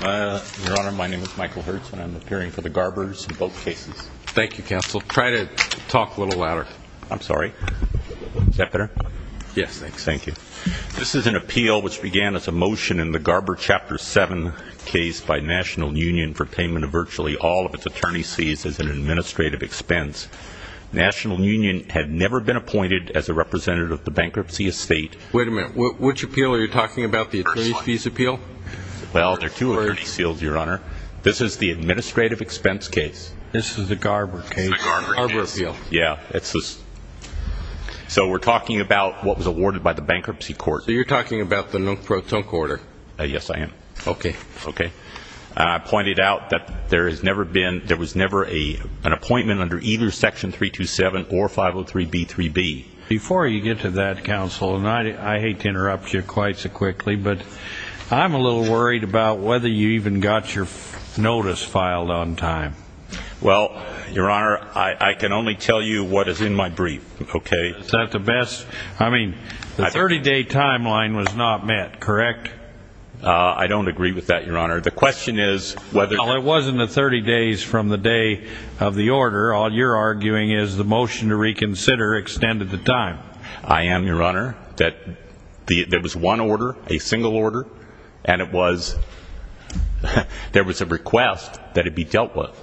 Your Honor, my name is Michael Hertz and I'm appearing for the Garber's boat cases. Thank you, Counsel. Try to talk a little louder. I'm sorry. Is that better? Yes, thanks. Thank you. This is an appeal which began as a motion in the Garber Chapter 7 case by National Union for payment of virtually all of its attorney's fees as an administrative expense. National Union had never been appointed as a representative of the bankruptcy estate. Wait a minute. Which appeal are you talking about, the attorney's fees appeal? Well, there are two attorney's fields, Your Honor. This is the administrative expense case. This is the Garber case. It's the Garber case. Garber appeal. Yeah. So we're talking about what was awarded by the bankruptcy court. So you're talking about the no-throw-tunk order. Yes, I am. Okay. Okay. I pointed out that there was never an appointment under either Section 327 or 503b3b. Before you get to that, Counsel, and I hate to interrupt you quite so quickly, but I'm a little worried about whether you even got your notice filed on time. Well, Your Honor, I can only tell you what is in my brief, okay? Is that the best? I mean, the 30-day timeline was not met, correct? I don't agree with that, Your Honor. The question is whether Well, it wasn't the 30 days from the day of the order. All you're arguing is the motion to reconsider extended the time. I am, Your Honor. There was one order, a single order, and there was a request that it be dealt with.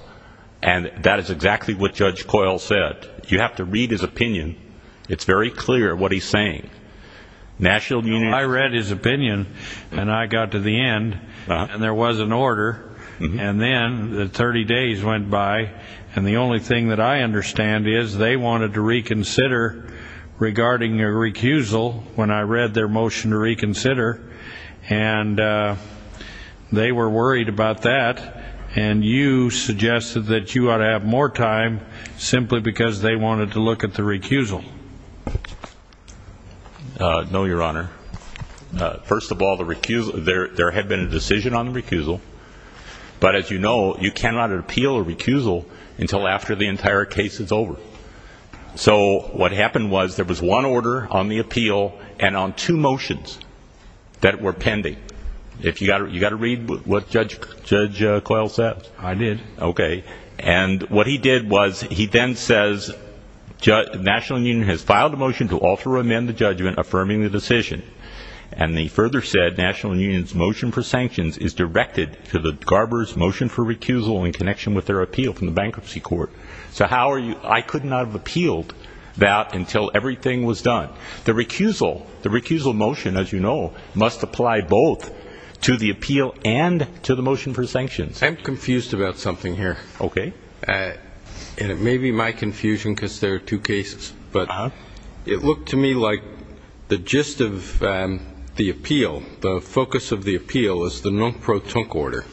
And that is exactly what Judge Coyle said. You have to read his opinion. It's very clear what he's saying. I read his opinion, and I got to the end, and there was an order, and then the 30 days went by, and the only thing that I understand is they wanted to reconsider regarding a recusal when I read their motion to reconsider. And they were worried about that, and you suggested that you ought to have more time simply because they wanted to look at the recusal. No, Your Honor. First of all, there had been a decision on the recusal, but as you know, you cannot appeal a recusal until after the entire case is over. So what happened was there was one order on the appeal and on two motions that were pending. You got to read what Judge Coyle said. I did. Okay. And what he did was he then says, National Union has filed a motion to alter or amend the judgment affirming the decision. And he further said National Union's motion for sanctions is directed to the Garber's motion for recusal in connection with their appeal from the bankruptcy court. So I could not have appealed that until everything was done. The recusal motion, as you know, must apply both to the appeal and to the motion for sanctions. I'm confused about something here. Okay. And it may be my confusion because there are two cases. But it looked to me like the gist of the appeal, the focus of the appeal, is the non-protonc order,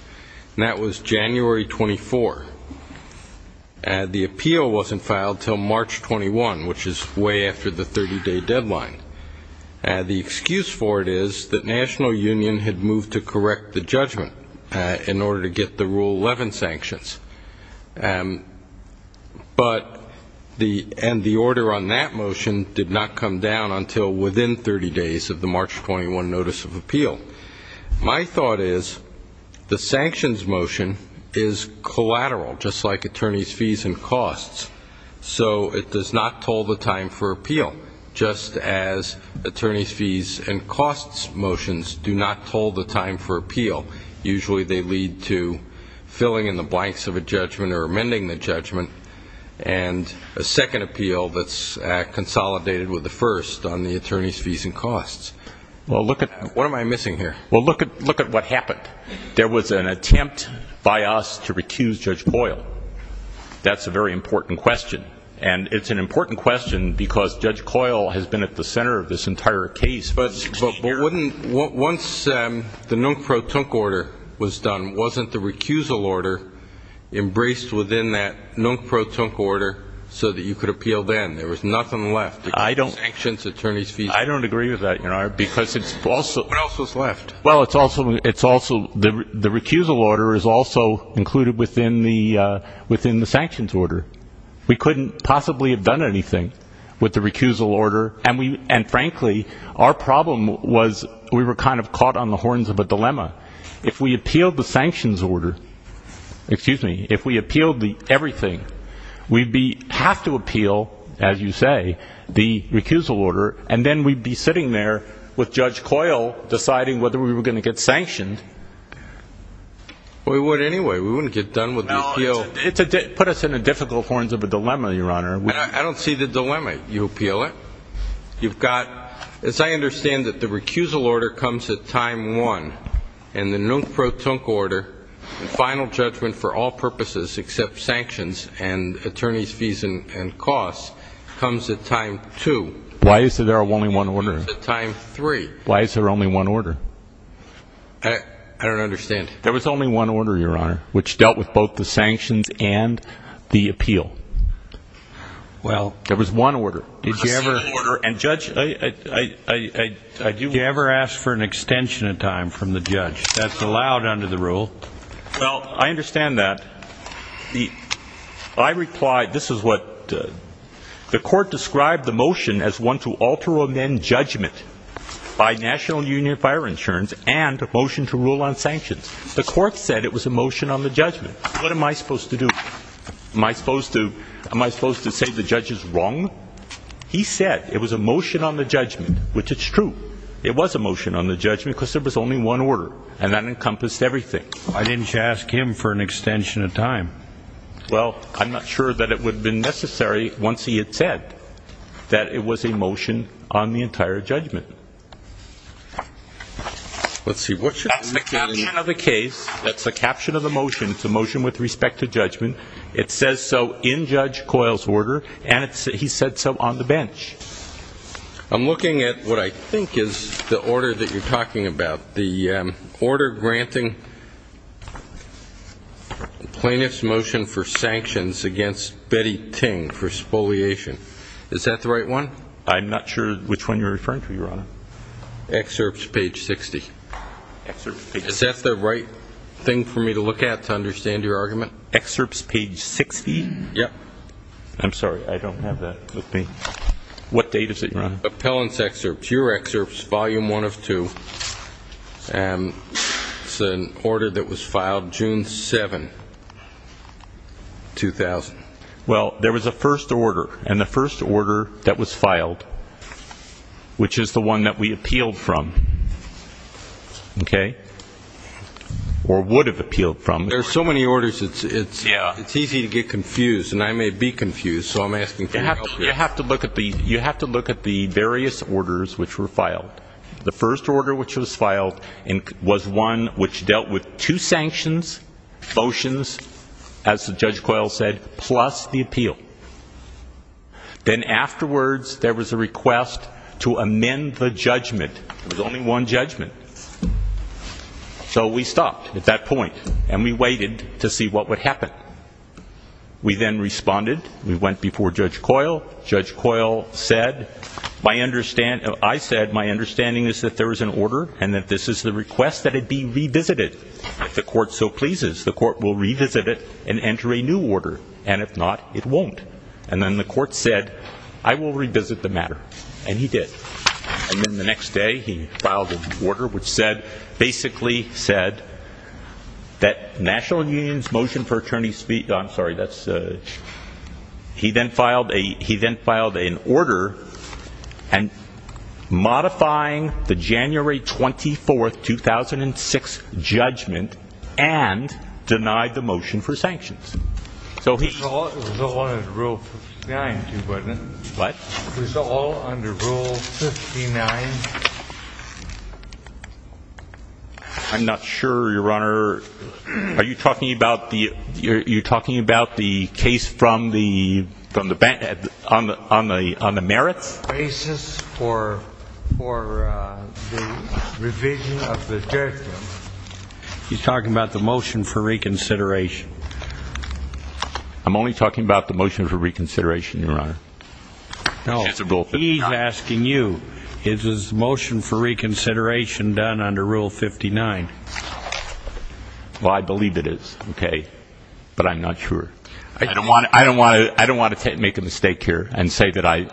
and that was January 24. The appeal wasn't filed until March 21, which is way after the 30-day deadline. The excuse for it is that National Union had moved to correct the judgment in order to get the Rule 11 sanctions. But the order on that motion did not come down until within 30 days of the March 21 notice of appeal. My thought is the sanctions motion is collateral, just like attorneys' fees and costs. So it does not toll the time for appeal, just as attorneys' fees and costs motions do not toll the time for appeal. Usually they lead to filling in the blanks of a judgment or amending the judgment, and a second appeal that's consolidated with the first on the attorneys' fees and costs. Well, look at what I'm missing here. Well, look at what happened. There was an attempt by us to recuse Judge Boyle. That's a very important question. And it's an important question because Judge Boyle has been at the center of this entire case. But once the non-protonc order was done, wasn't the recusal order embraced within that non-protonc order so that you could appeal then? There was nothing left. I don't agree with that, Your Honor, because it's also the recusal order is also included within the sanctions order. We couldn't possibly have done anything with the recusal order. And, frankly, our problem was we were kind of caught on the horns of a dilemma. If we appealed the sanctions order, excuse me, if we appealed everything, we'd have to appeal, as you say, the recusal order, and then we'd be sitting there with Judge Boyle deciding whether we were going to get sanctioned. Well, we would anyway. We wouldn't get done with the appeal. Well, it put us in the difficult horns of a dilemma, Your Honor. I don't see the dilemma. You appeal it. You've got, as I understand it, the recusal order comes at time one, and the non-protonc order and final judgment for all purposes except sanctions and attorney's fees and costs comes at time two. Why is there only one order? It comes at time three. Why is there only one order? I don't understand. There was only one order, Your Honor, which dealt with both the sanctions and the appeal. Well. There was one order. A second order. And, Judge, I do. Did you ever ask for an extension of time from the judge? That's allowed under the rule. Well, I understand that. I replied, this is what, the court described the motion as one to alter or amend judgment by national union fire insurance and a motion to rule on sanctions. The court said it was a motion on the judgment. What am I supposed to do? Am I supposed to say the judge is wrong? He said it was a motion on the judgment, which is true. It was a motion on the judgment because there was only one order, and that encompassed everything. Why didn't you ask him for an extension of time? Well, I'm not sure that it would have been necessary once he had said that it was a motion on the entire judgment. Let's see. That's the caption of the case. That's the caption of the motion. It's a motion with respect to judgment. It says so in Judge Coyle's order, and he said so on the bench. I'm looking at what I think is the order that you're talking about, the order granting plaintiff's motion for sanctions against Betty Ting for spoliation. Is that the right one? I'm not sure which one you're referring to, Your Honor. Excerpts page 60. Is that the right thing for me to look at to understand your argument? Excerpts page 60? Yes. I'm sorry. I don't have that with me. What date is it, Your Honor? Appellant's excerpts. Your excerpt is volume 1 of 2, and it's an order that was filed June 7, 2000. Well, there was a first order, and the first order that was filed, which is the one that we appealed from, okay, or would have appealed from. There are so many orders, it's easy to get confused, and I may be confused, so I'm asking for your help here. You have to look at the various orders which were filed. The first order which was filed was one which dealt with two sanctions, motions, as Judge Coyle said, plus the appeal. Then afterwards there was a request to amend the judgment. There was only one judgment. So we stopped at that point, and we waited to see what would happen. We then responded. We went before Judge Coyle. Judge Coyle said, I said, my understanding is that there was an order and that this is the request that it be revisited. If the court so pleases, the court will revisit it and enter a new order, and if not, it won't. And then the court said, I will revisit the matter, and he did. And then the next day he filed an order which basically said that National Union's Motion for Attorney's Speech, I'm sorry, he then filed an order modifying the January 24, 2006 judgment and denied the motion for sanctions. It was all under Rule 59, too, wasn't it? What? It was all under Rule 59. I'm not sure, Your Honor. Are you talking about the case on the merits? Basis for the revision of the judgment. He's talking about the motion for reconsideration. I'm only talking about the motion for reconsideration, Your Honor. No, he's asking you. Is his motion for reconsideration done under Rule 59? Well, I believe it is, okay, but I'm not sure. I don't want to make a mistake here and say that I,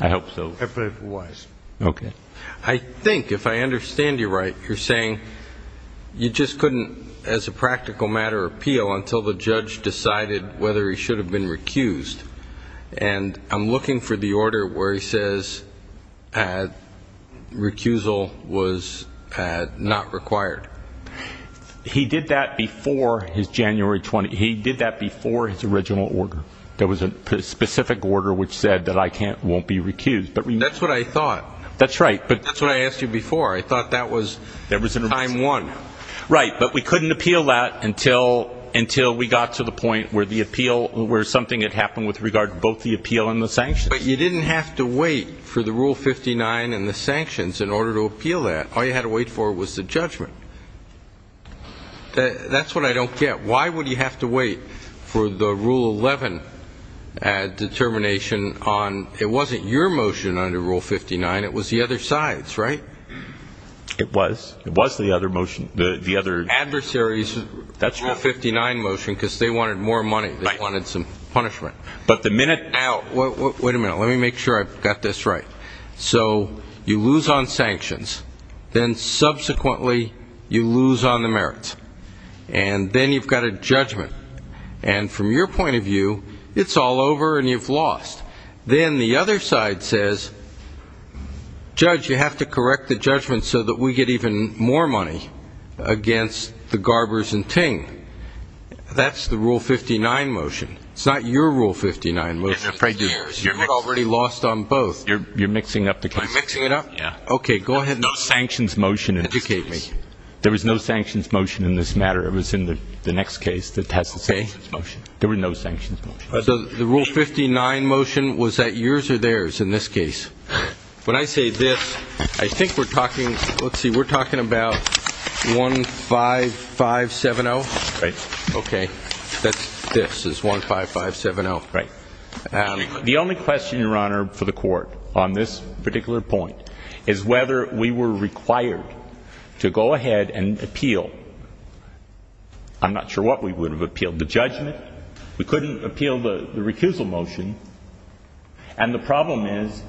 I hope so. If it was. Okay. I think, if I understand you right, you're saying you just couldn't, as a practical matter, appeal until the judge decided whether he should have been recused. And I'm looking for the order where he says recusal was not required. He did that before his January 20. He did that before his original order. There was a specific order which said that I won't be recused. That's what I thought. That's right. That's what I asked you before. I thought that was time one. Right. But we couldn't appeal that until we got to the point where the appeal, where something had happened with regard to both the appeal and the sanctions. But you didn't have to wait for the Rule 59 and the sanctions in order to appeal that. All you had to wait for was the judgment. That's what I don't get. Why would he have to wait for the Rule 11 determination on, it wasn't your motion under Rule 59, it was the other side's, right? It was. It was the other motion. The other. Adversary's Rule 59 motion because they wanted more money. Right. They wanted some punishment. But the minute. Now, wait a minute. Let me make sure I've got this right. So you lose on sanctions. Then, subsequently, you lose on the merits. And then you've got a judgment. And from your point of view, it's all over and you've lost. Then the other side says, Judge, you have to correct the judgment so that we get even more money against the Garbers and Ting. That's the Rule 59 motion. It's not your Rule 59 motion. You've already lost on both. You're mixing up the case. I'm mixing it up? Yeah. Okay, go ahead. No sanctions motion in this case. There was no sanctions motion in this matter. It was in the next case that has the sanctions motion. There were no sanctions motions. The Rule 59 motion, was that yours or theirs in this case? When I say this, I think we're talking. Let's see. We're talking about 15570. Right. Okay. This is 15570. Right. The only question, Your Honor, for the court on this particular point is whether we were required to go ahead and appeal. I'm not sure what we would have appealed. The judgment? We couldn't appeal the recusal motion, and the problem is,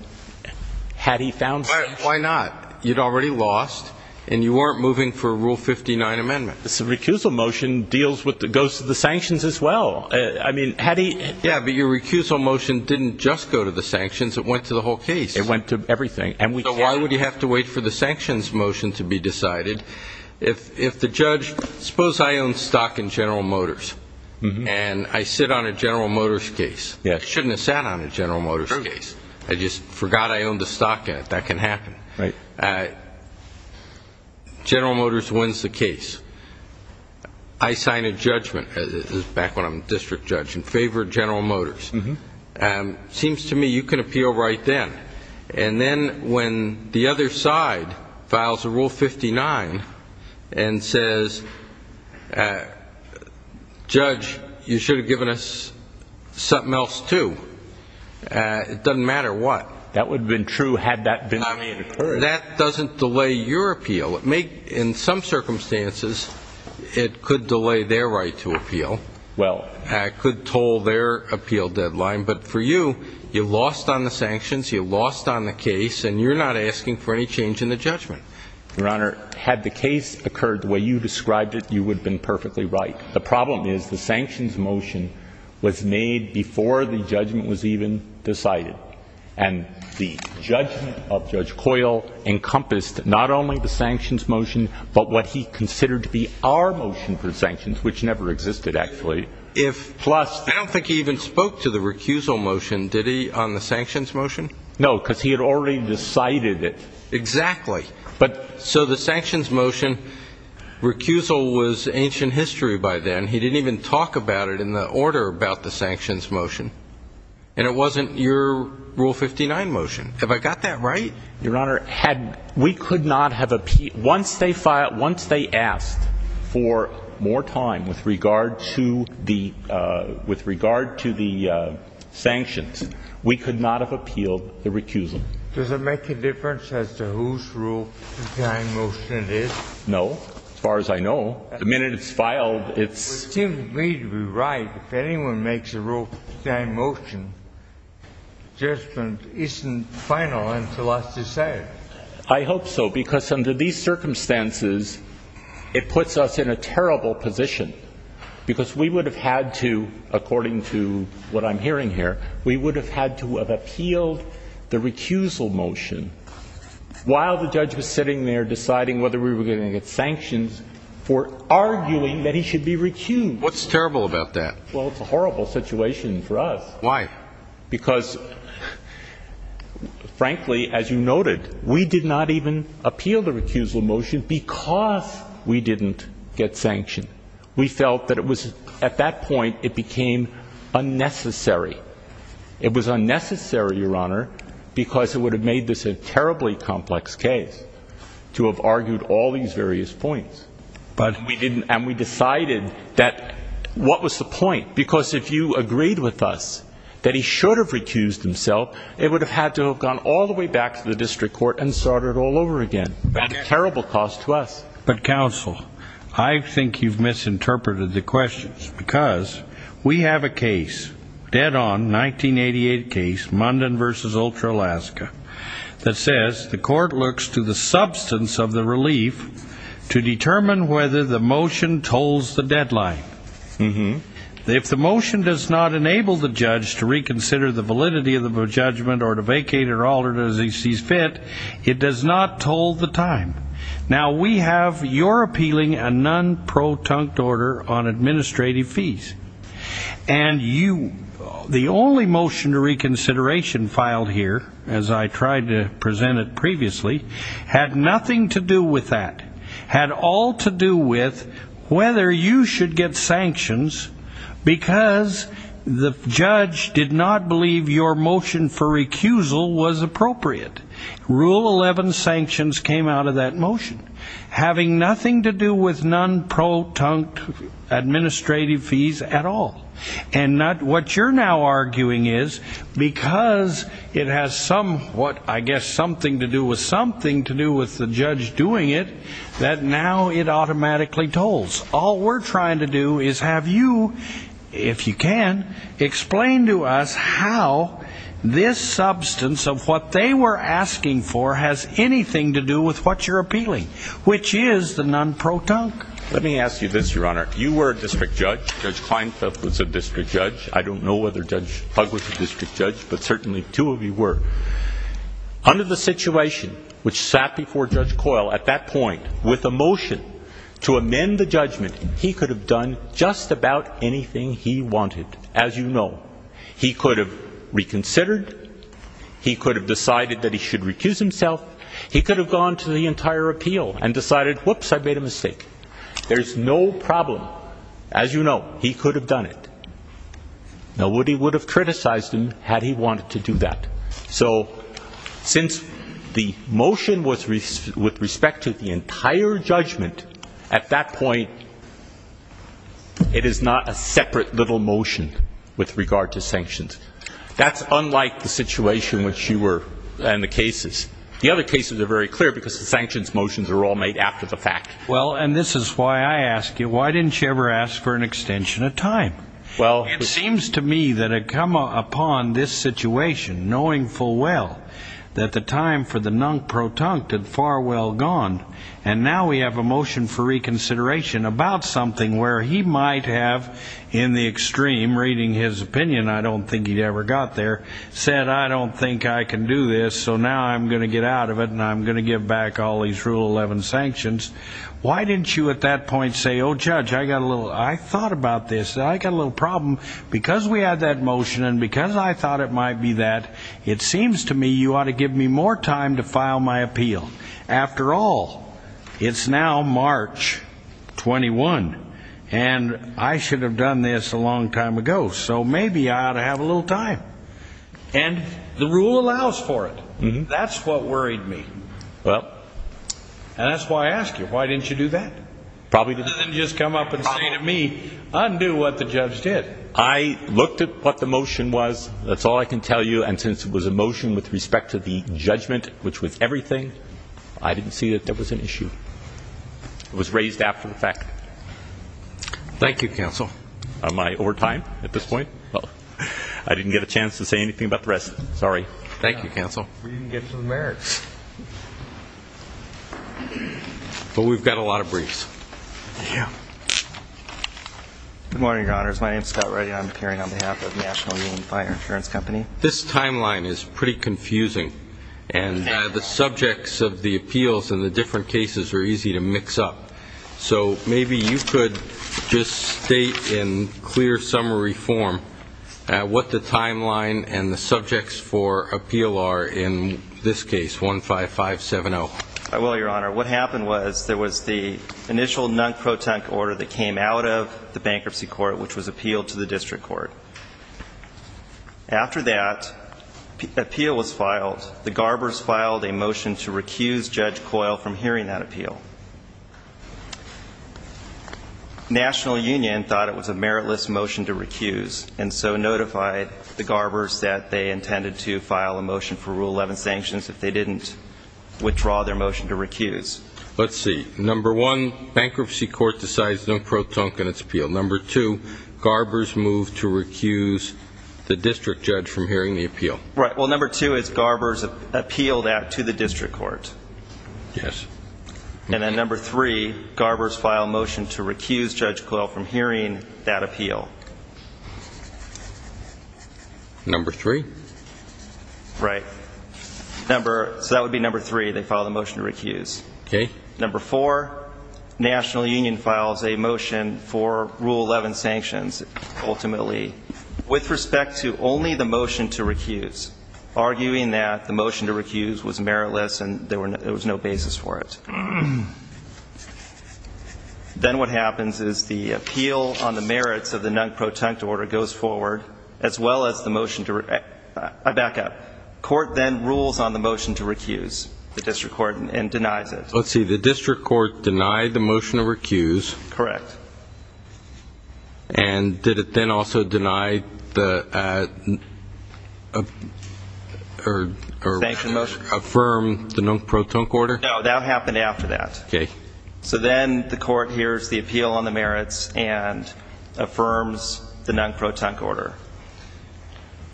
had he found sanctions. Why not? You'd already lost, and you weren't moving for a Rule 59 amendment. The recusal motion goes to the sanctions as well. I mean, had he... Yeah, but your recusal motion didn't just go to the sanctions. It went to the whole case. It went to everything. So why would you have to wait for the sanctions motion to be decided? If the judge... suppose I own stock in General Motors, and I sit on a General Motors case. Yeah. I shouldn't have sat on a General Motors case. True. I just forgot I owned the stock in it. That can happen. Right. General Motors wins the case. I sign a judgment, back when I'm a district judge, in favor of General Motors. It seems to me you can appeal right then. And then when the other side files a Rule 59 and says, Judge, you should have given us something else too, it doesn't matter what. That would have been true had that been the way it occurred. That doesn't delay your appeal. In some circumstances, it could delay their right to appeal. Well. It could toll their appeal deadline. But for you, you lost on the sanctions, you lost on the case, and you're not asking for any change in the judgment. Your Honor, had the case occurred the way you described it, you would have been perfectly right. The problem is the sanctions motion was made before the judgment was even decided. And the judgment of Judge Coyle encompassed not only the sanctions motion, but what he considered to be our motion for sanctions, which never existed, actually. I don't think he even spoke to the recusal motion, did he, on the sanctions motion? No, because he had already decided it. Exactly. So the sanctions motion, recusal was ancient history by then. He didn't even talk about it in the order about the sanctions motion. And it wasn't your Rule 59 motion. Have I got that right? Your Honor, we could not have appealed. Once they asked for more time with regard to the sanctions, we could not have appealed the recusal. Does it make a difference as to whose Rule 59 motion it is? No, as far as I know. The minute it's filed, it's— But it seems to me to be right. If anyone makes a Rule 59 motion, judgment isn't final until it's decided. I hope so, because under these circumstances, it puts us in a terrible position, because we would have had to, according to what I'm hearing here, we would have had to have appealed the recusal motion while the judge was sitting there deciding whether we were going to get sanctions for arguing that he should be recused. What's terrible about that? Well, it's a horrible situation for us. Why? Because, frankly, as you noted, we did not even appeal the recusal motion because we didn't get sanctioned. We felt that it was—at that point, it became unnecessary. It was unnecessary, Your Honor, because it would have made this a terribly complex case to have argued all these various points. But— And we decided that—what was the point? Because if you agreed with us that he should have recused himself, it would have had to have gone all the way back to the district court and started all over again, a terrible cost to us. But, counsel, I think you've misinterpreted the questions because we have a case, a dead-on 1988 case, Munden v. Ultra Alaska, that says the court looks to the substance of the relief to determine whether the motion tolls the deadline. If the motion does not enable the judge to reconsider the validity of the judgment or to vacate it at all as he sees fit, it does not toll the time. Now, we have your appealing a non-protonct order on administrative fees. And you—the only motion to reconsideration filed here, as I tried to present it previously, had nothing to do with that. It had all to do with whether you should get sanctions because the judge did not believe your motion for recusal was appropriate. Rule 11 sanctions came out of that motion, having nothing to do with non-protonct administrative fees at all. And what you're now arguing is because it has somewhat— I guess something to do with something to do with the judge doing it, that now it automatically tolls. All we're trying to do is have you, if you can, explain to us how this substance of what they were asking for has anything to do with what you're appealing, which is the non-protonct. Let me ask you this, Your Honor. You were a district judge. Judge Kleinfeld was a district judge. I don't know whether Judge Hug was a district judge, but certainly two of you were. Under the situation which sat before Judge Coyle at that point, with a motion to amend the judgment, he could have done just about anything he wanted, as you know. He could have reconsidered. He could have decided that he should recuse himself. He could have gone to the entire appeal and decided, whoops, I made a mistake. There's no problem. As you know, he could have done it. Nobody would have criticized him had he wanted to do that. So since the motion was with respect to the entire judgment, at that point it is not a separate little motion with regard to sanctions. That's unlike the situation in which you were in the cases. The other cases are very clear because the sanctions motions are all made after the fact. Well, and this is why I ask you, why didn't you ever ask for an extension of time? It seems to me that it had come upon this situation, knowing full well, that the time for the non-protonct had far well gone, and now we have a motion for reconsideration about something where he might have, in the extreme, reading his opinion, I don't think he'd ever got there, said, I don't think I can do this, so now I'm going to get out of it and I'm going to give back all these Rule 11 sanctions. Why didn't you at that point say, oh, Judge, I thought about this, I got a little problem. Because we had that motion and because I thought it might be that, it seems to me you ought to give me more time to file my appeal. After all, it's now March 21, and I should have done this a long time ago, so maybe I ought to have a little time. And the rule allows for it. That's what worried me. And that's why I ask you, why didn't you do that? Rather than just come up and say to me, undo what the judge did. I looked at what the motion was, that's all I can tell you, and since it was a motion with respect to the judgment, which was everything, I didn't see that there was an issue. It was raised after the fact. Thank you, Counsel. Am I over time at this point? I didn't get a chance to say anything about the rest. Sorry. Thank you, Counsel. We didn't get to the merits. But we've got a lot of briefs. Yeah. Good morning, Your Honors. My name is Scott Reddy. I'm appearing on behalf of National Union Fire Insurance Company. This timeline is pretty confusing, and the subjects of the appeals in the different cases are easy to mix up. So maybe you could just state in clear summary form what the timeline and the subjects for appeal are in this case, 15570. I will, Your Honor. What happened was there was the initial non-protent order that came out of the bankruptcy court, which was appealed to the district court. After that appeal was filed, the Garbers filed a motion to recuse Judge Coyle from hearing that appeal. National Union thought it was a meritless motion to recuse and so notified the Garbers that they intended to file a motion for Rule 11 sanctions if they didn't withdraw their motion to recuse. Let's see. Number one, bankruptcy court decides non-protent in its appeal. Number two, Garbers moved to recuse the district judge from hearing the appeal. Right. Well, number two is Garbers appealed that to the district court. Yes. And then number three, Garbers filed a motion to recuse Judge Coyle from hearing that appeal. Number three? So that would be number three. They filed a motion to recuse. Okay. Number four, National Union files a motion for Rule 11 sanctions ultimately with respect to only the motion to recuse, arguing that the motion to recuse was meritless and there was no basis for it. Then what happens is the appeal on the merits of the non-protent order goes forward as well as the motion to recuse. I back up. Court then rules on the motion to recuse, the district court, and denies it. Let's see. The district court denied the motion to recuse. Correct. And did it then also deny the or affirm the non-protent order? No, that happened after that. Okay. So then the court hears the appeal on the merits and affirms the non-protent order.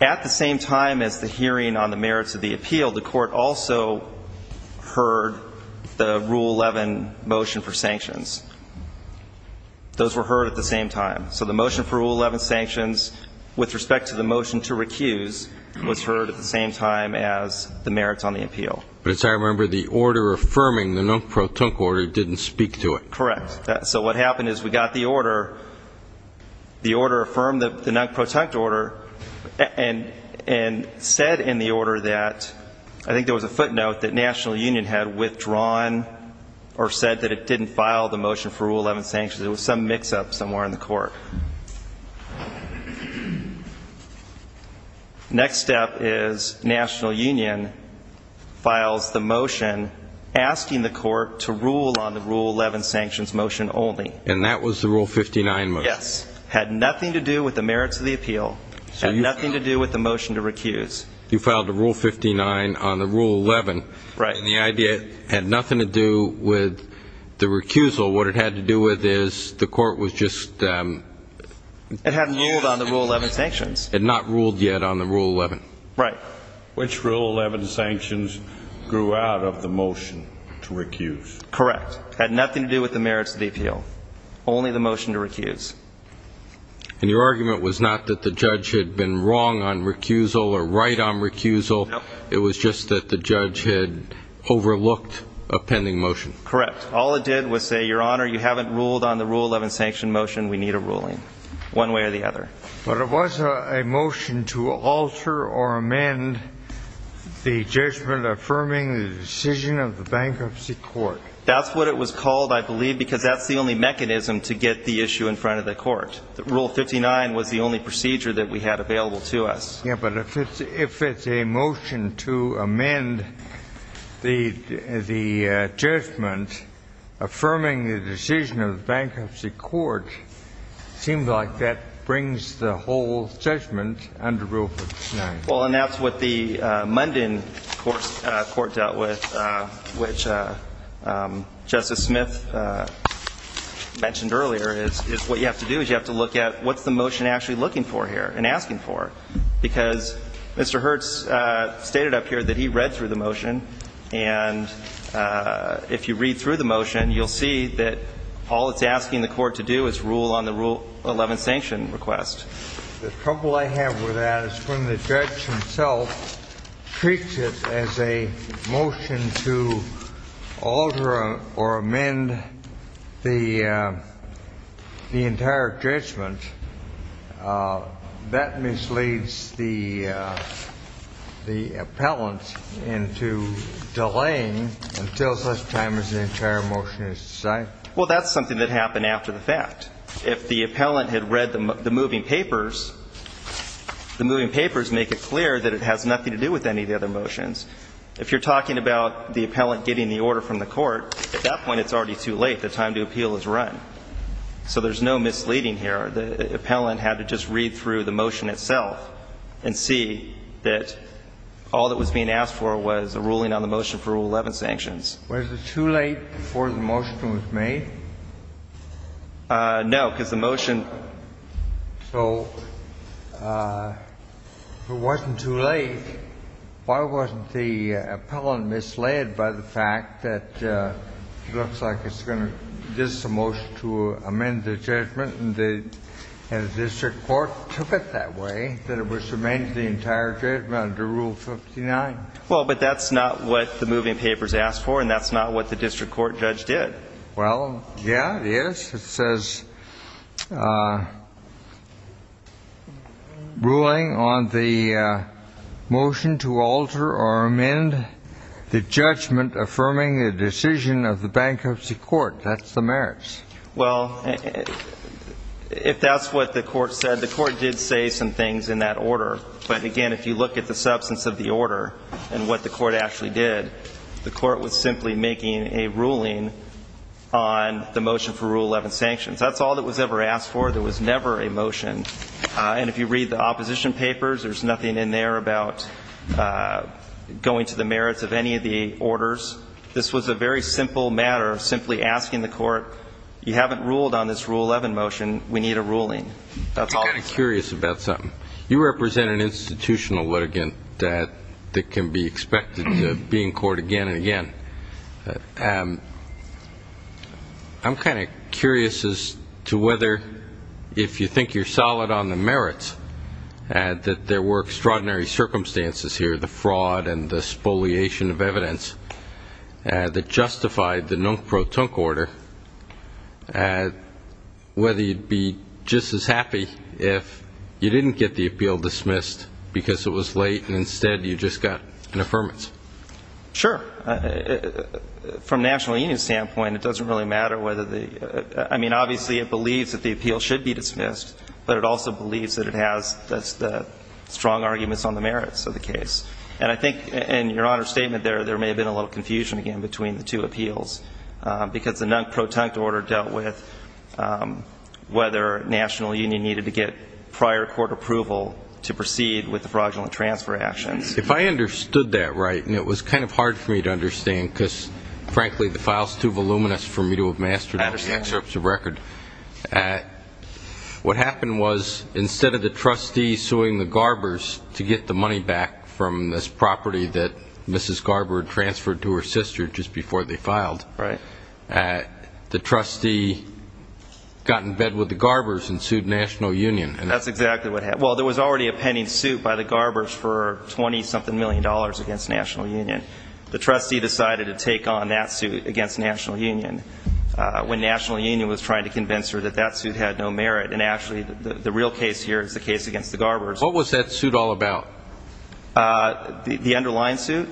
At the same time as the hearing on the merits of the appeal, the court also heard the Rule 11 motion for sanctions. Those were heard at the same time. So the motion for Rule 11 sanctions with respect to the motion to recuse was heard at the same time as the merits on the appeal. But as I remember, the order affirming the non-protent order didn't speak to it. Correct. So what happened is we got the order. The order affirmed the non-protent order and said in the order that I think there was a footnote that National Union had withdrawn or said that it didn't file the motion for Rule 11 sanctions. It was some mix-up somewhere in the court. Next step is National Union files the motion asking the court to rule on the Rule 11 sanctions motion only. And that was the Rule 59 motion? Yes. It had nothing to do with the merits of the appeal. It had nothing to do with the motion to recuse. You filed a Rule 59 on the Rule 11. Right. And the idea had nothing to do with the recusal. What it had to do with is the court was just ---- It hadn't ruled on the Rule 11 sanctions. It had not ruled yet on the Rule 11. Right. Which Rule 11 sanctions grew out of the motion to recuse? Correct. It had nothing to do with the merits of the appeal, only the motion to recuse. And your argument was not that the judge had been wrong on recusal or right on recusal. No. It was just that the judge had overlooked a pending motion. Correct. All it did was say, Your Honor, you haven't ruled on the Rule 11 sanction motion. We need a ruling one way or the other. But it was a motion to alter or amend the judgment affirming the decision of the bankruptcy court. That's what it was called, I believe, because that's the only mechanism to get the issue in front of the court. Rule 59 was the only procedure that we had available to us. Yes, but if it's a motion to amend the judgment affirming the decision of the bankruptcy court, it seems like that brings the whole judgment under Rule 59. Well, and that's what the Munden court dealt with, which Justice Smith mentioned earlier, is what you have to do is you have to look at what's the motion actually looking for here and asking for? Because Mr. Hertz stated up here that he read through the motion. And if you read through the motion, you'll see that all it's asking the court to do is rule on the Rule 11 sanction request. The trouble I have with that is when the judge himself treats it as a motion to alter or amend the entire judgment, that misleads the appellant into delaying until such time as the entire motion is decided. Well, that's something that happened after the fact. If the appellant had read the moving papers, the moving papers make it clear that it has nothing to do with any of the other motions. If you're talking about the appellant getting the order from the court, at that point it's already too late. The time to appeal is run. So there's no misleading here. The appellant had to just read through the motion itself and see that all that was being asked for was a ruling on the motion for Rule 11 sanctions. Was it too late before the motion was made? No, because the motion — So if it wasn't too late, why wasn't the appellant misled by the fact that it looks like it's going to — this is a motion to amend the judgment, and the district court took it that way, that it was to amend the entire judgment under Rule 59? Well, but that's not what the moving papers asked for, and that's not what the district court judge did. Well, yeah, it is. It says, ruling on the motion to alter or amend the judgment affirming the decision of the bankruptcy court. That's the merits. Well, if that's what the court said, the court did say some things in that order. But, again, if you look at the substance of the order and what the court actually did, the court was simply making a ruling on the motion for Rule 11 sanctions. That's all that was ever asked for. There was never a motion. And if you read the opposition papers, there's nothing in there about going to the merits of any of the orders. This was a very simple matter, simply asking the court, you haven't ruled on this Rule 11 motion. We need a ruling. That's all. I'm kind of curious about something. You represent an institutional litigant that can be expected to be in court again and again. I'm kind of curious as to whether, if you think you're solid on the merits, that there were extraordinary circumstances here, the fraud and the spoliation of evidence, that justified the nunk pro tunk order, whether you'd be just as happy if you didn't get the appeal dismissed because it was late and instead you just got an affirmance. Sure. From a National Union standpoint, it doesn't really matter whether the ‑‑ I mean, obviously, it believes that the appeal should be dismissed, but it also believes that it has the strong arguments on the merits of the case. And I think in your Honor's statement there, there may have been a little confusion again between the two appeals because the nunk pro tunk order dealt with whether National Union needed to get prior court approval to proceed with the fraudulent transfer actions. If I understood that right, and it was kind of hard for me to understand because, frankly, the file is too voluminous for me to have mastered the excerpts of record. I understand. What happened was instead of the trustee suing the Garbers to get the money back from this property that Mrs. Garber had transferred to her sister just before they filed, the trustee got in bed with the Garbers and sued National Union. That's exactly what happened. Well, there was already a pending suit by the Garbers for $20 something million against National Union. The trustee decided to take on that suit against National Union. When National Union was trying to convince her that that suit had no merit, and actually the real case here is the case against the Garbers. What was that suit all about? The underlying suit.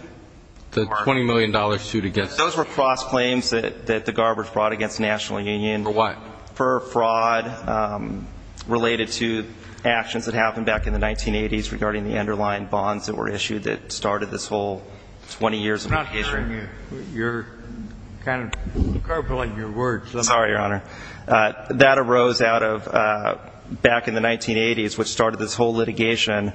The $20 million suit against them. Those were cross-claims that the Garbers brought against National Union. For what? For fraud related to actions that happened back in the 1980s regarding the underlying bonds that were issued that started this whole 20 years of the case. I'm not hearing you. You're kind of garbling your words. Sorry, Your Honor. That arose back in the 1980s which started this whole litigation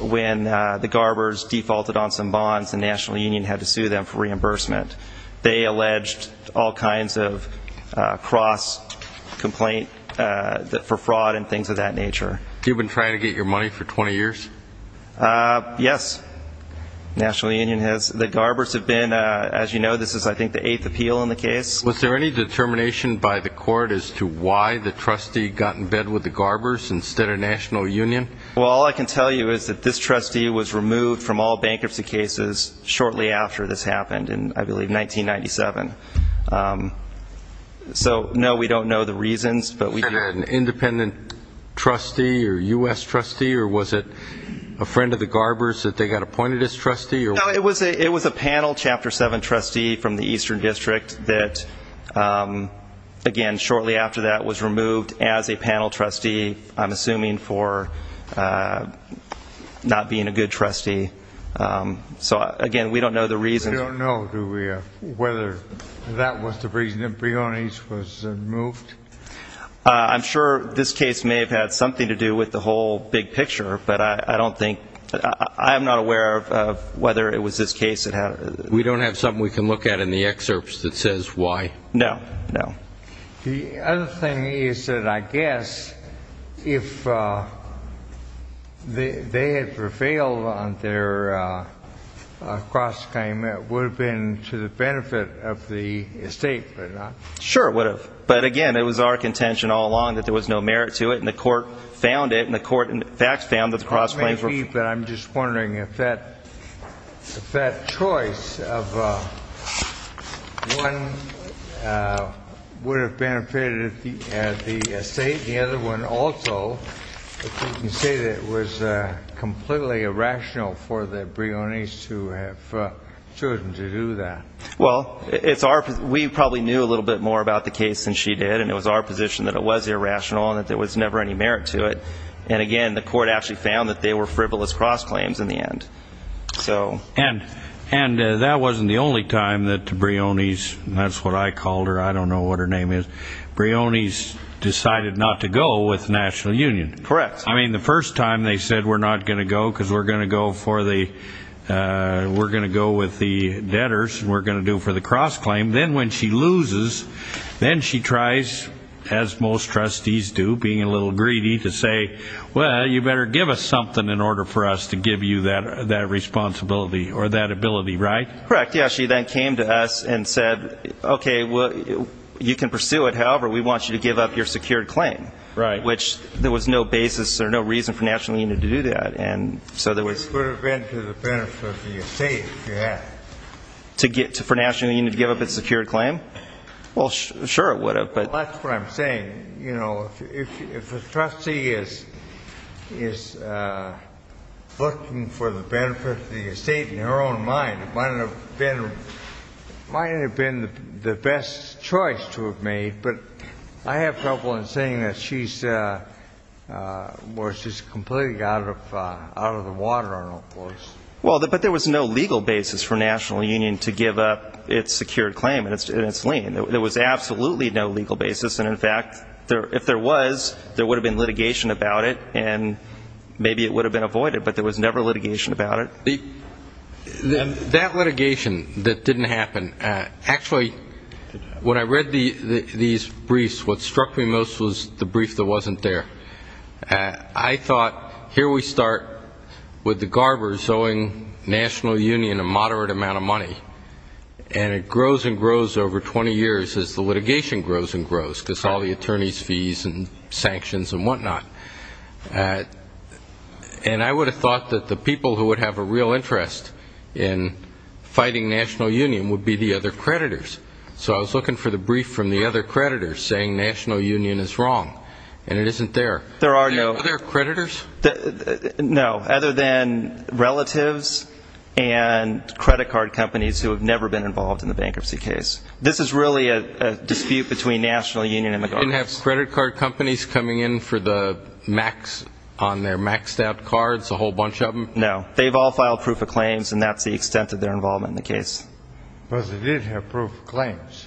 when the Garbers defaulted on some bonds and National Union had to sue them for reimbursement. They alleged all kinds of cross-complaint for fraud and things of that nature. You've been trying to get your money for 20 years? Yes. National Union has. The Garbers have been, as you know, this is I think the eighth appeal in the case. Was there any determination by the court as to why the trustee got in bed with the Garbers instead of National Union? Well, all I can tell you is that this trustee was removed from all bankruptcy cases shortly after this happened in, I believe, 1997. So, no, we don't know the reasons. Was it an independent trustee or U.S. trustee or was it a friend of the Garbers that they got appointed as trustee? No, it was a panel Chapter 7 trustee from the Eastern District that, again, shortly after that was removed as a panel trustee, I'm assuming for not being a good trustee. So, again, we don't know the reasons. You don't know, do we, whether that was the reason that Briones was removed? I'm sure this case may have had something to do with the whole big picture, but I don't think, I'm not aware of whether it was this case that had. We don't have something we can look at in the excerpts that says why? No, no. The other thing is that I guess if they had prevailed on their cross-claim, it would have been to the benefit of the estate, would it not? Sure, it would have. But, again, it was our contention all along that there was no merit to it, and the court found it, and the court, in fact, found that the cross-claims were... It would have benefited the estate and the other one also, but you can say that it was completely irrational for the Briones to have chosen to do that. Well, we probably knew a little bit more about the case than she did, and it was our position that it was irrational and that there was never any merit to it. And, again, the court actually found that they were frivolous cross-claims in the end. And that wasn't the only time that the Briones, and that's what I called her, I don't know what her name is, Briones decided not to go with the National Union. Correct. I mean, the first time they said we're not going to go because we're going to go with the debtors, and we're going to do it for the cross-claim. Then when she loses, then she tries, as most trustees do, being a little greedy, to say, well, you better give us something in order for us to give you that responsibility or that ability, right? Correct. Yeah, she then came to us and said, okay, you can pursue it. However, we want you to give up your secured claim. Right. Which there was no basis or no reason for National Union to do that. It would have been to the benefit of the estate if you had. For National Union to give up its secured claim? Well, sure it would have. That's what I'm saying. You know, if a trustee is looking for the benefit of the estate in her own mind, it might have been the best choice to have made. But I have trouble in saying that she's completely out of the water on all fours. Well, but there was no legal basis for National Union to give up its secured claim and its lien. There was absolutely no legal basis. And, in fact, if there was, there would have been litigation about it, and maybe it would have been avoided. But there was never litigation about it. That litigation that didn't happen, actually, when I read these briefs, what struck me most was the brief that wasn't there. I thought, here we start with the Garbers owing National Union a moderate amount of money. And it grows and grows over 20 years as the litigation grows and grows, because all the attorneys' fees and sanctions and whatnot. And I would have thought that the people who would have a real interest in fighting National Union would be the other creditors. So I was looking for the brief from the other creditors saying National Union is wrong, and it isn't there. Are there creditors? No, other than relatives and credit card companies who have never been involved in the bankruptcy case. This is really a dispute between National Union and the Garbers. Didn't have credit card companies coming in for the max on their maxed out cards, a whole bunch of them? No. They've all filed proof of claims, and that's the extent of their involvement in the case. But they did have proof of claims.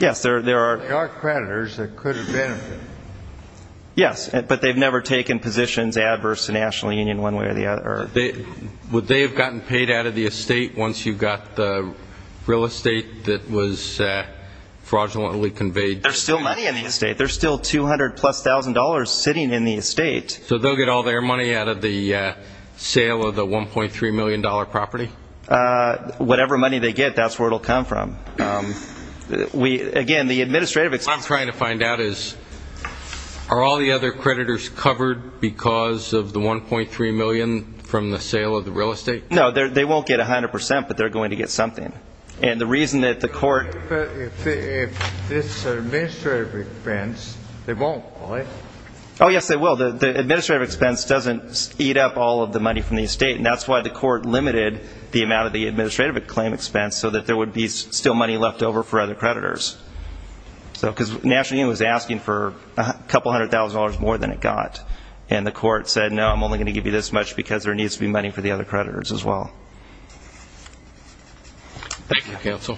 Yes, there are. There are creditors that could have benefited. Yes, but they've never taken positions adverse to National Union one way or the other. Would they have gotten paid out of the estate once you got the real estate that was fraudulently conveyed? There's still money in the estate. There's still $200,000-plus sitting in the estate. So they'll get all their money out of the sale of the $1.3 million property? Whatever money they get, that's where it will come from. Again, the administrative expense. What I'm trying to find out is are all the other creditors covered because of the $1.3 million from the sale of the real estate? No, they won't get 100 percent, but they're going to get something. And the reason that the court... But if this is an administrative expense, they won't, will they? Oh, yes, they will. The administrative expense doesn't eat up all of the money from the estate, and that's why the court limited the amount of the administrative claim expense, so that there would be still money left over for other creditors. Because National Union was asking for a couple hundred thousand dollars more than it got, and the court said, no, I'm only going to give you this much because there needs to be money for the other creditors as well. Thank you, counsel.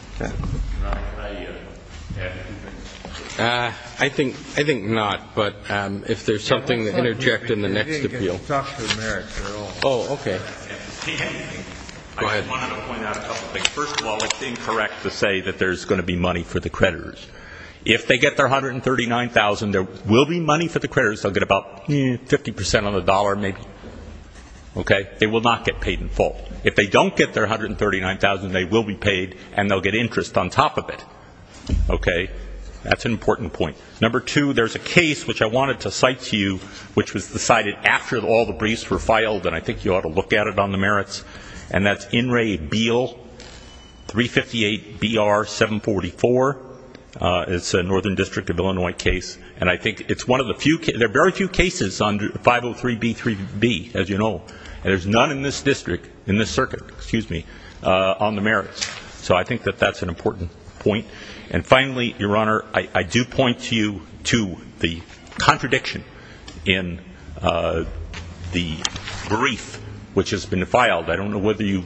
I think not, but if there's something to interject in the next appeal. Oh, okay. I just wanted to point out a couple things. First of all, it's incorrect to say that there's going to be money for the creditors. If they get their $139,000, there will be money for the creditors. They'll get about 50 percent on the dollar, maybe. Okay? They will not get paid in full. If they don't get their $139,000, they will be paid, and they'll get interest on top of it. Okay? That's an important point. Number two, there's a case, which I wanted to cite to you, which was decided after all the briefs were filed, and I think you ought to look at it on the merits, and that's In re Beal, 358-BR-744. It's a Northern District of Illinois case, and I think it's one of the few cases. There are very few cases on 503-B3B, as you know, and there's none in this district, in this circuit, excuse me, on the merits. So I think that that's an important point. And finally, Your Honor, I do point you to the contradiction in the brief, which has been filed. I don't know whether you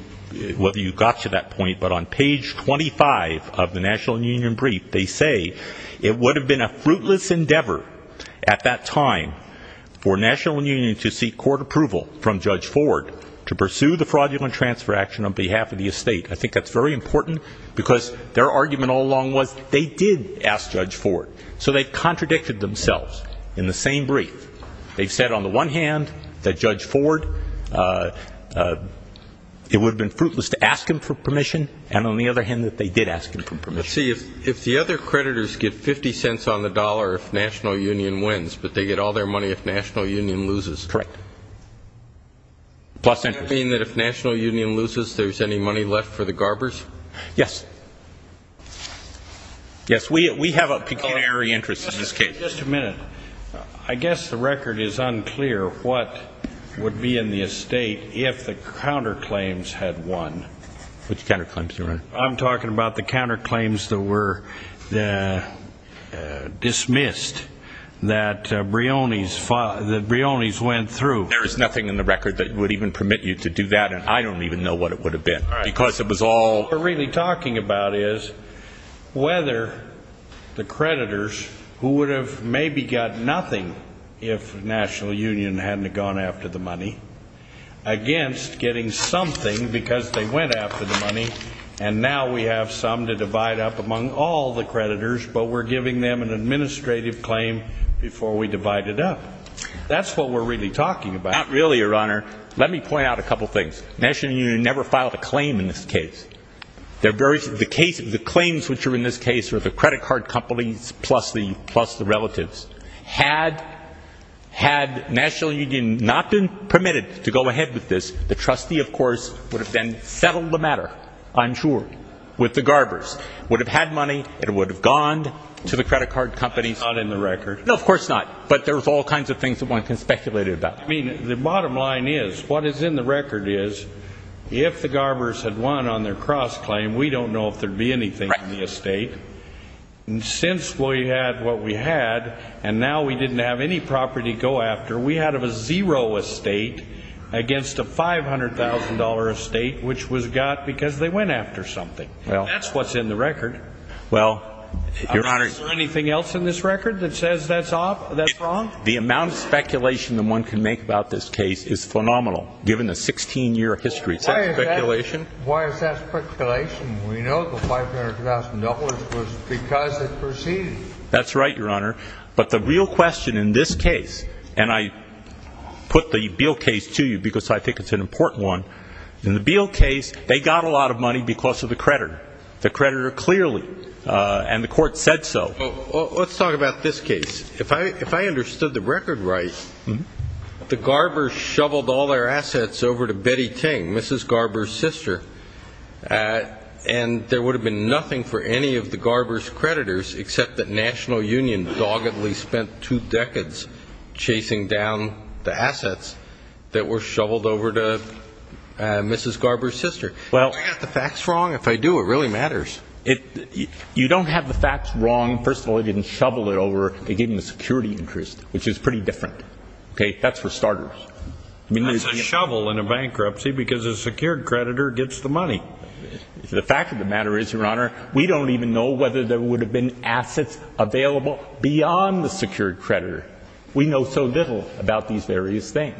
got to that point, but on page 25 of the National Union brief, they say it would have been a fruitless endeavor at that time for National Union to seek court approval from Judge Ford to pursue the fraudulent transfer action on behalf of the estate. I think that's very important, because their argument all along was they did ask Judge Ford. So they contradicted themselves in the same brief. They've said on the one hand that Judge Ford, it would have been fruitless to ask him for permission, and on the other hand that they did ask him for permission. But see, if the other creditors get 50 cents on the dollar if National Union wins, but they get all their money if National Union loses. Correct. Plus interest. Does that mean that if National Union loses, there's any money left for the Garbers? Yes. Yes, we have a pecuniary interest in this case. Just a minute. I guess the record is unclear what would be in the estate if the counterclaims had won. Which counterclaims, Your Honor? I'm talking about the counterclaims that were dismissed that Brioni's went through. There is nothing in the record that would even permit you to do that, and I don't even know what it would have been. All right. Because it was all... What we're really talking about is whether the creditors, who would have maybe got nothing if National Union hadn't gone after the money, against getting something because they went after the money, and now we have some to divide up among all the creditors, but we're giving them an administrative claim before we divide it up. That's what we're really talking about. Not really, Your Honor. Let me point out a couple things. National Union never filed a claim in this case. The claims which are in this case are the credit card companies plus the relatives. Had National Union not been permitted to go ahead with this, the trustee, of course, would have then settled the matter, I'm sure, with the Garbers. It would have had money. It would have gone to the credit card companies. That's not in the record. No, of course not. But there's all kinds of things that one can speculate about. I mean, the bottom line is what is in the record is if the Garbers had won on their cross-claim, we don't know if there would be anything in the estate. Right. Since we had what we had, and now we didn't have any property to go after, we had a zero estate against a $500,000 estate, which was got because they went after something. That's what's in the record. Well, Your Honor. Is there anything else in this record that says that's wrong? The amount of speculation that one can make about this case is phenomenal, given the 16-year history. Is that speculation? Why is that speculation? We know the $500,000 was because it proceeded. That's right, Your Honor. But the real question in this case, and I put the Beal case to you because I think it's an important one. In the Beal case, they got a lot of money because of the creditor. The creditor clearly, and the court said so. Let's talk about this case. If I understood the record right, the Garbers shoveled all their assets over to Betty Ting, Mrs. Garbers' sister, and there would have been nothing for any of the Garbers' creditors except that National Union doggedly spent two decades chasing down the assets that were shoveled over to Mrs. Garbers' sister. Do I have the facts wrong? If I do, it really matters. You don't have the facts wrong. First of all, they didn't shovel it over. They gave them the security interest, which is pretty different. That's for starters. That's a shovel in a bankruptcy because a secured creditor gets the money. The fact of the matter is, Your Honor, we don't even know whether there would have been assets available beyond the secured creditor. We know so little about these various things.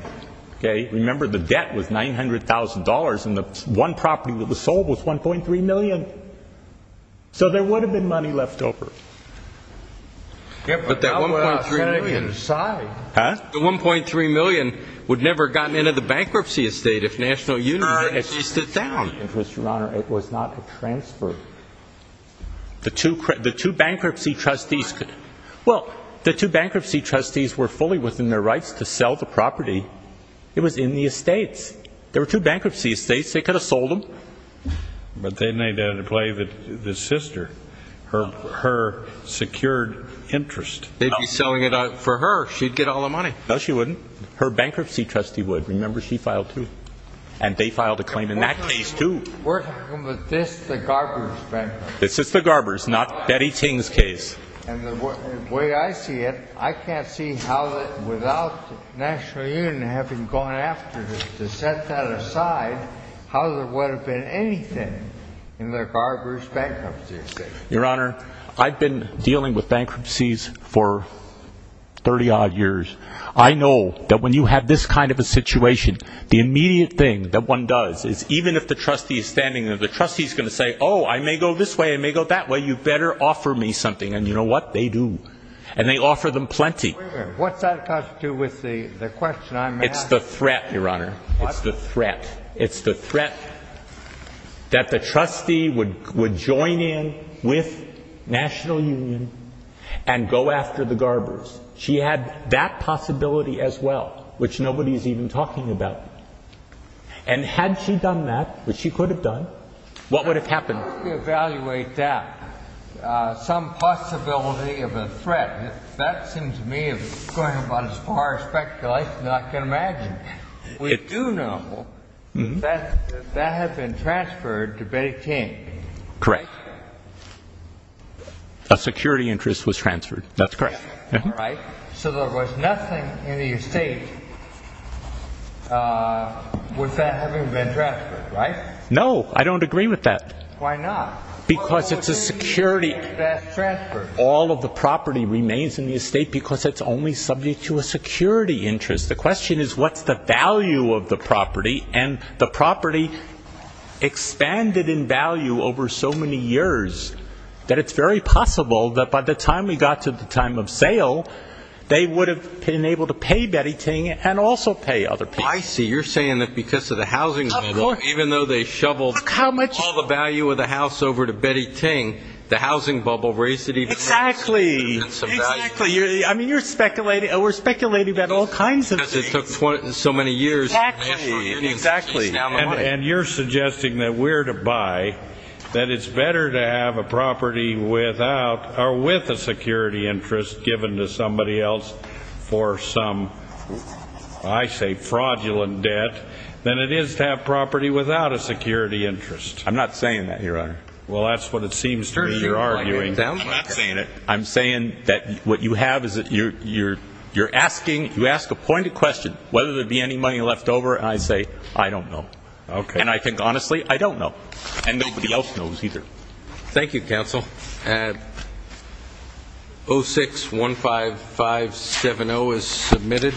Remember the debt was $900,000 and the one property that was sold was $1.3 million. So there would have been money left over. But that $1.3 million would never have gotten into the bankruptcy estate if National Union hadn't chased it down. But, Your Honor, it was not a transfer. The two bankruptcy trustees were fully within their rights to sell the property. It was in the estates. There were two bankruptcy estates. They could have sold them. But then they had to play the sister, her secured interest. They'd be selling it for her. She'd get all the money. No, she wouldn't. Her bankruptcy trustee would. Remember, she filed, too. And they filed a claim in that case, too. We're talking about this, the Garber's bankruptcy. This is the Garber's, not Betty Ting's case. And the way I see it, I can't see how without National Union having gone after it to set that aside, how there would have been anything in the Garber's bankruptcy estate. Your Honor, I've been dealing with bankruptcies for 30-odd years. I know that when you have this kind of a situation, the immediate thing that one does is even if the trustee is standing there, the trustee is going to say, oh, I may go this way, I may go that way, you better offer me something. And you know what? They do. And they offer them plenty. Wait a minute. What's that got to do with the question I'm asking? It's the threat, Your Honor. What? It's the threat. It's the threat that the trustee would join in with National Union and go after the Garber's. She had that possibility as well, which nobody is even talking about. And had she done that, which she could have done, what would have happened? How do you evaluate that, some possibility of a threat? That seems to me going about as far as speculation can imagine. We do know that that had been transferred to Betty King. Correct. A security interest was transferred. That's correct. All right. So there was nothing in the estate with that having been transferred, right? No. I don't agree with that. Why not? Because it's a security. All of the property remains in the estate because it's only subject to a security interest. The question is what's the value of the property, and the property expanded in value over so many years that it's very possible that by the time we got to the time of sale, they would have been able to pay Betty King and also pay other people. I see. You're saying that because of the housing bubble, even though they shoveled all the value of the house over to Betty King, the housing bubble raised it even more. Exactly. I mean, you're speculating. We're speculating about all kinds of things. Because it took so many years. Exactly. And you're suggesting that we're to buy, that it's better to have a property without or with a security interest given to somebody else for some, I say, fraudulent debt, than it is to have property without a security interest. I'm not saying that, Your Honor. Well, that's what it seems to me you're arguing. I'm not saying it. I'm saying that what you have is that you're asking, you ask a pointed question, whether there would be any money left over, and I say, I don't know. Okay. And I think honestly, I don't know. And nobody else knows either. Thank you, counsel. 06-15570 is submitted.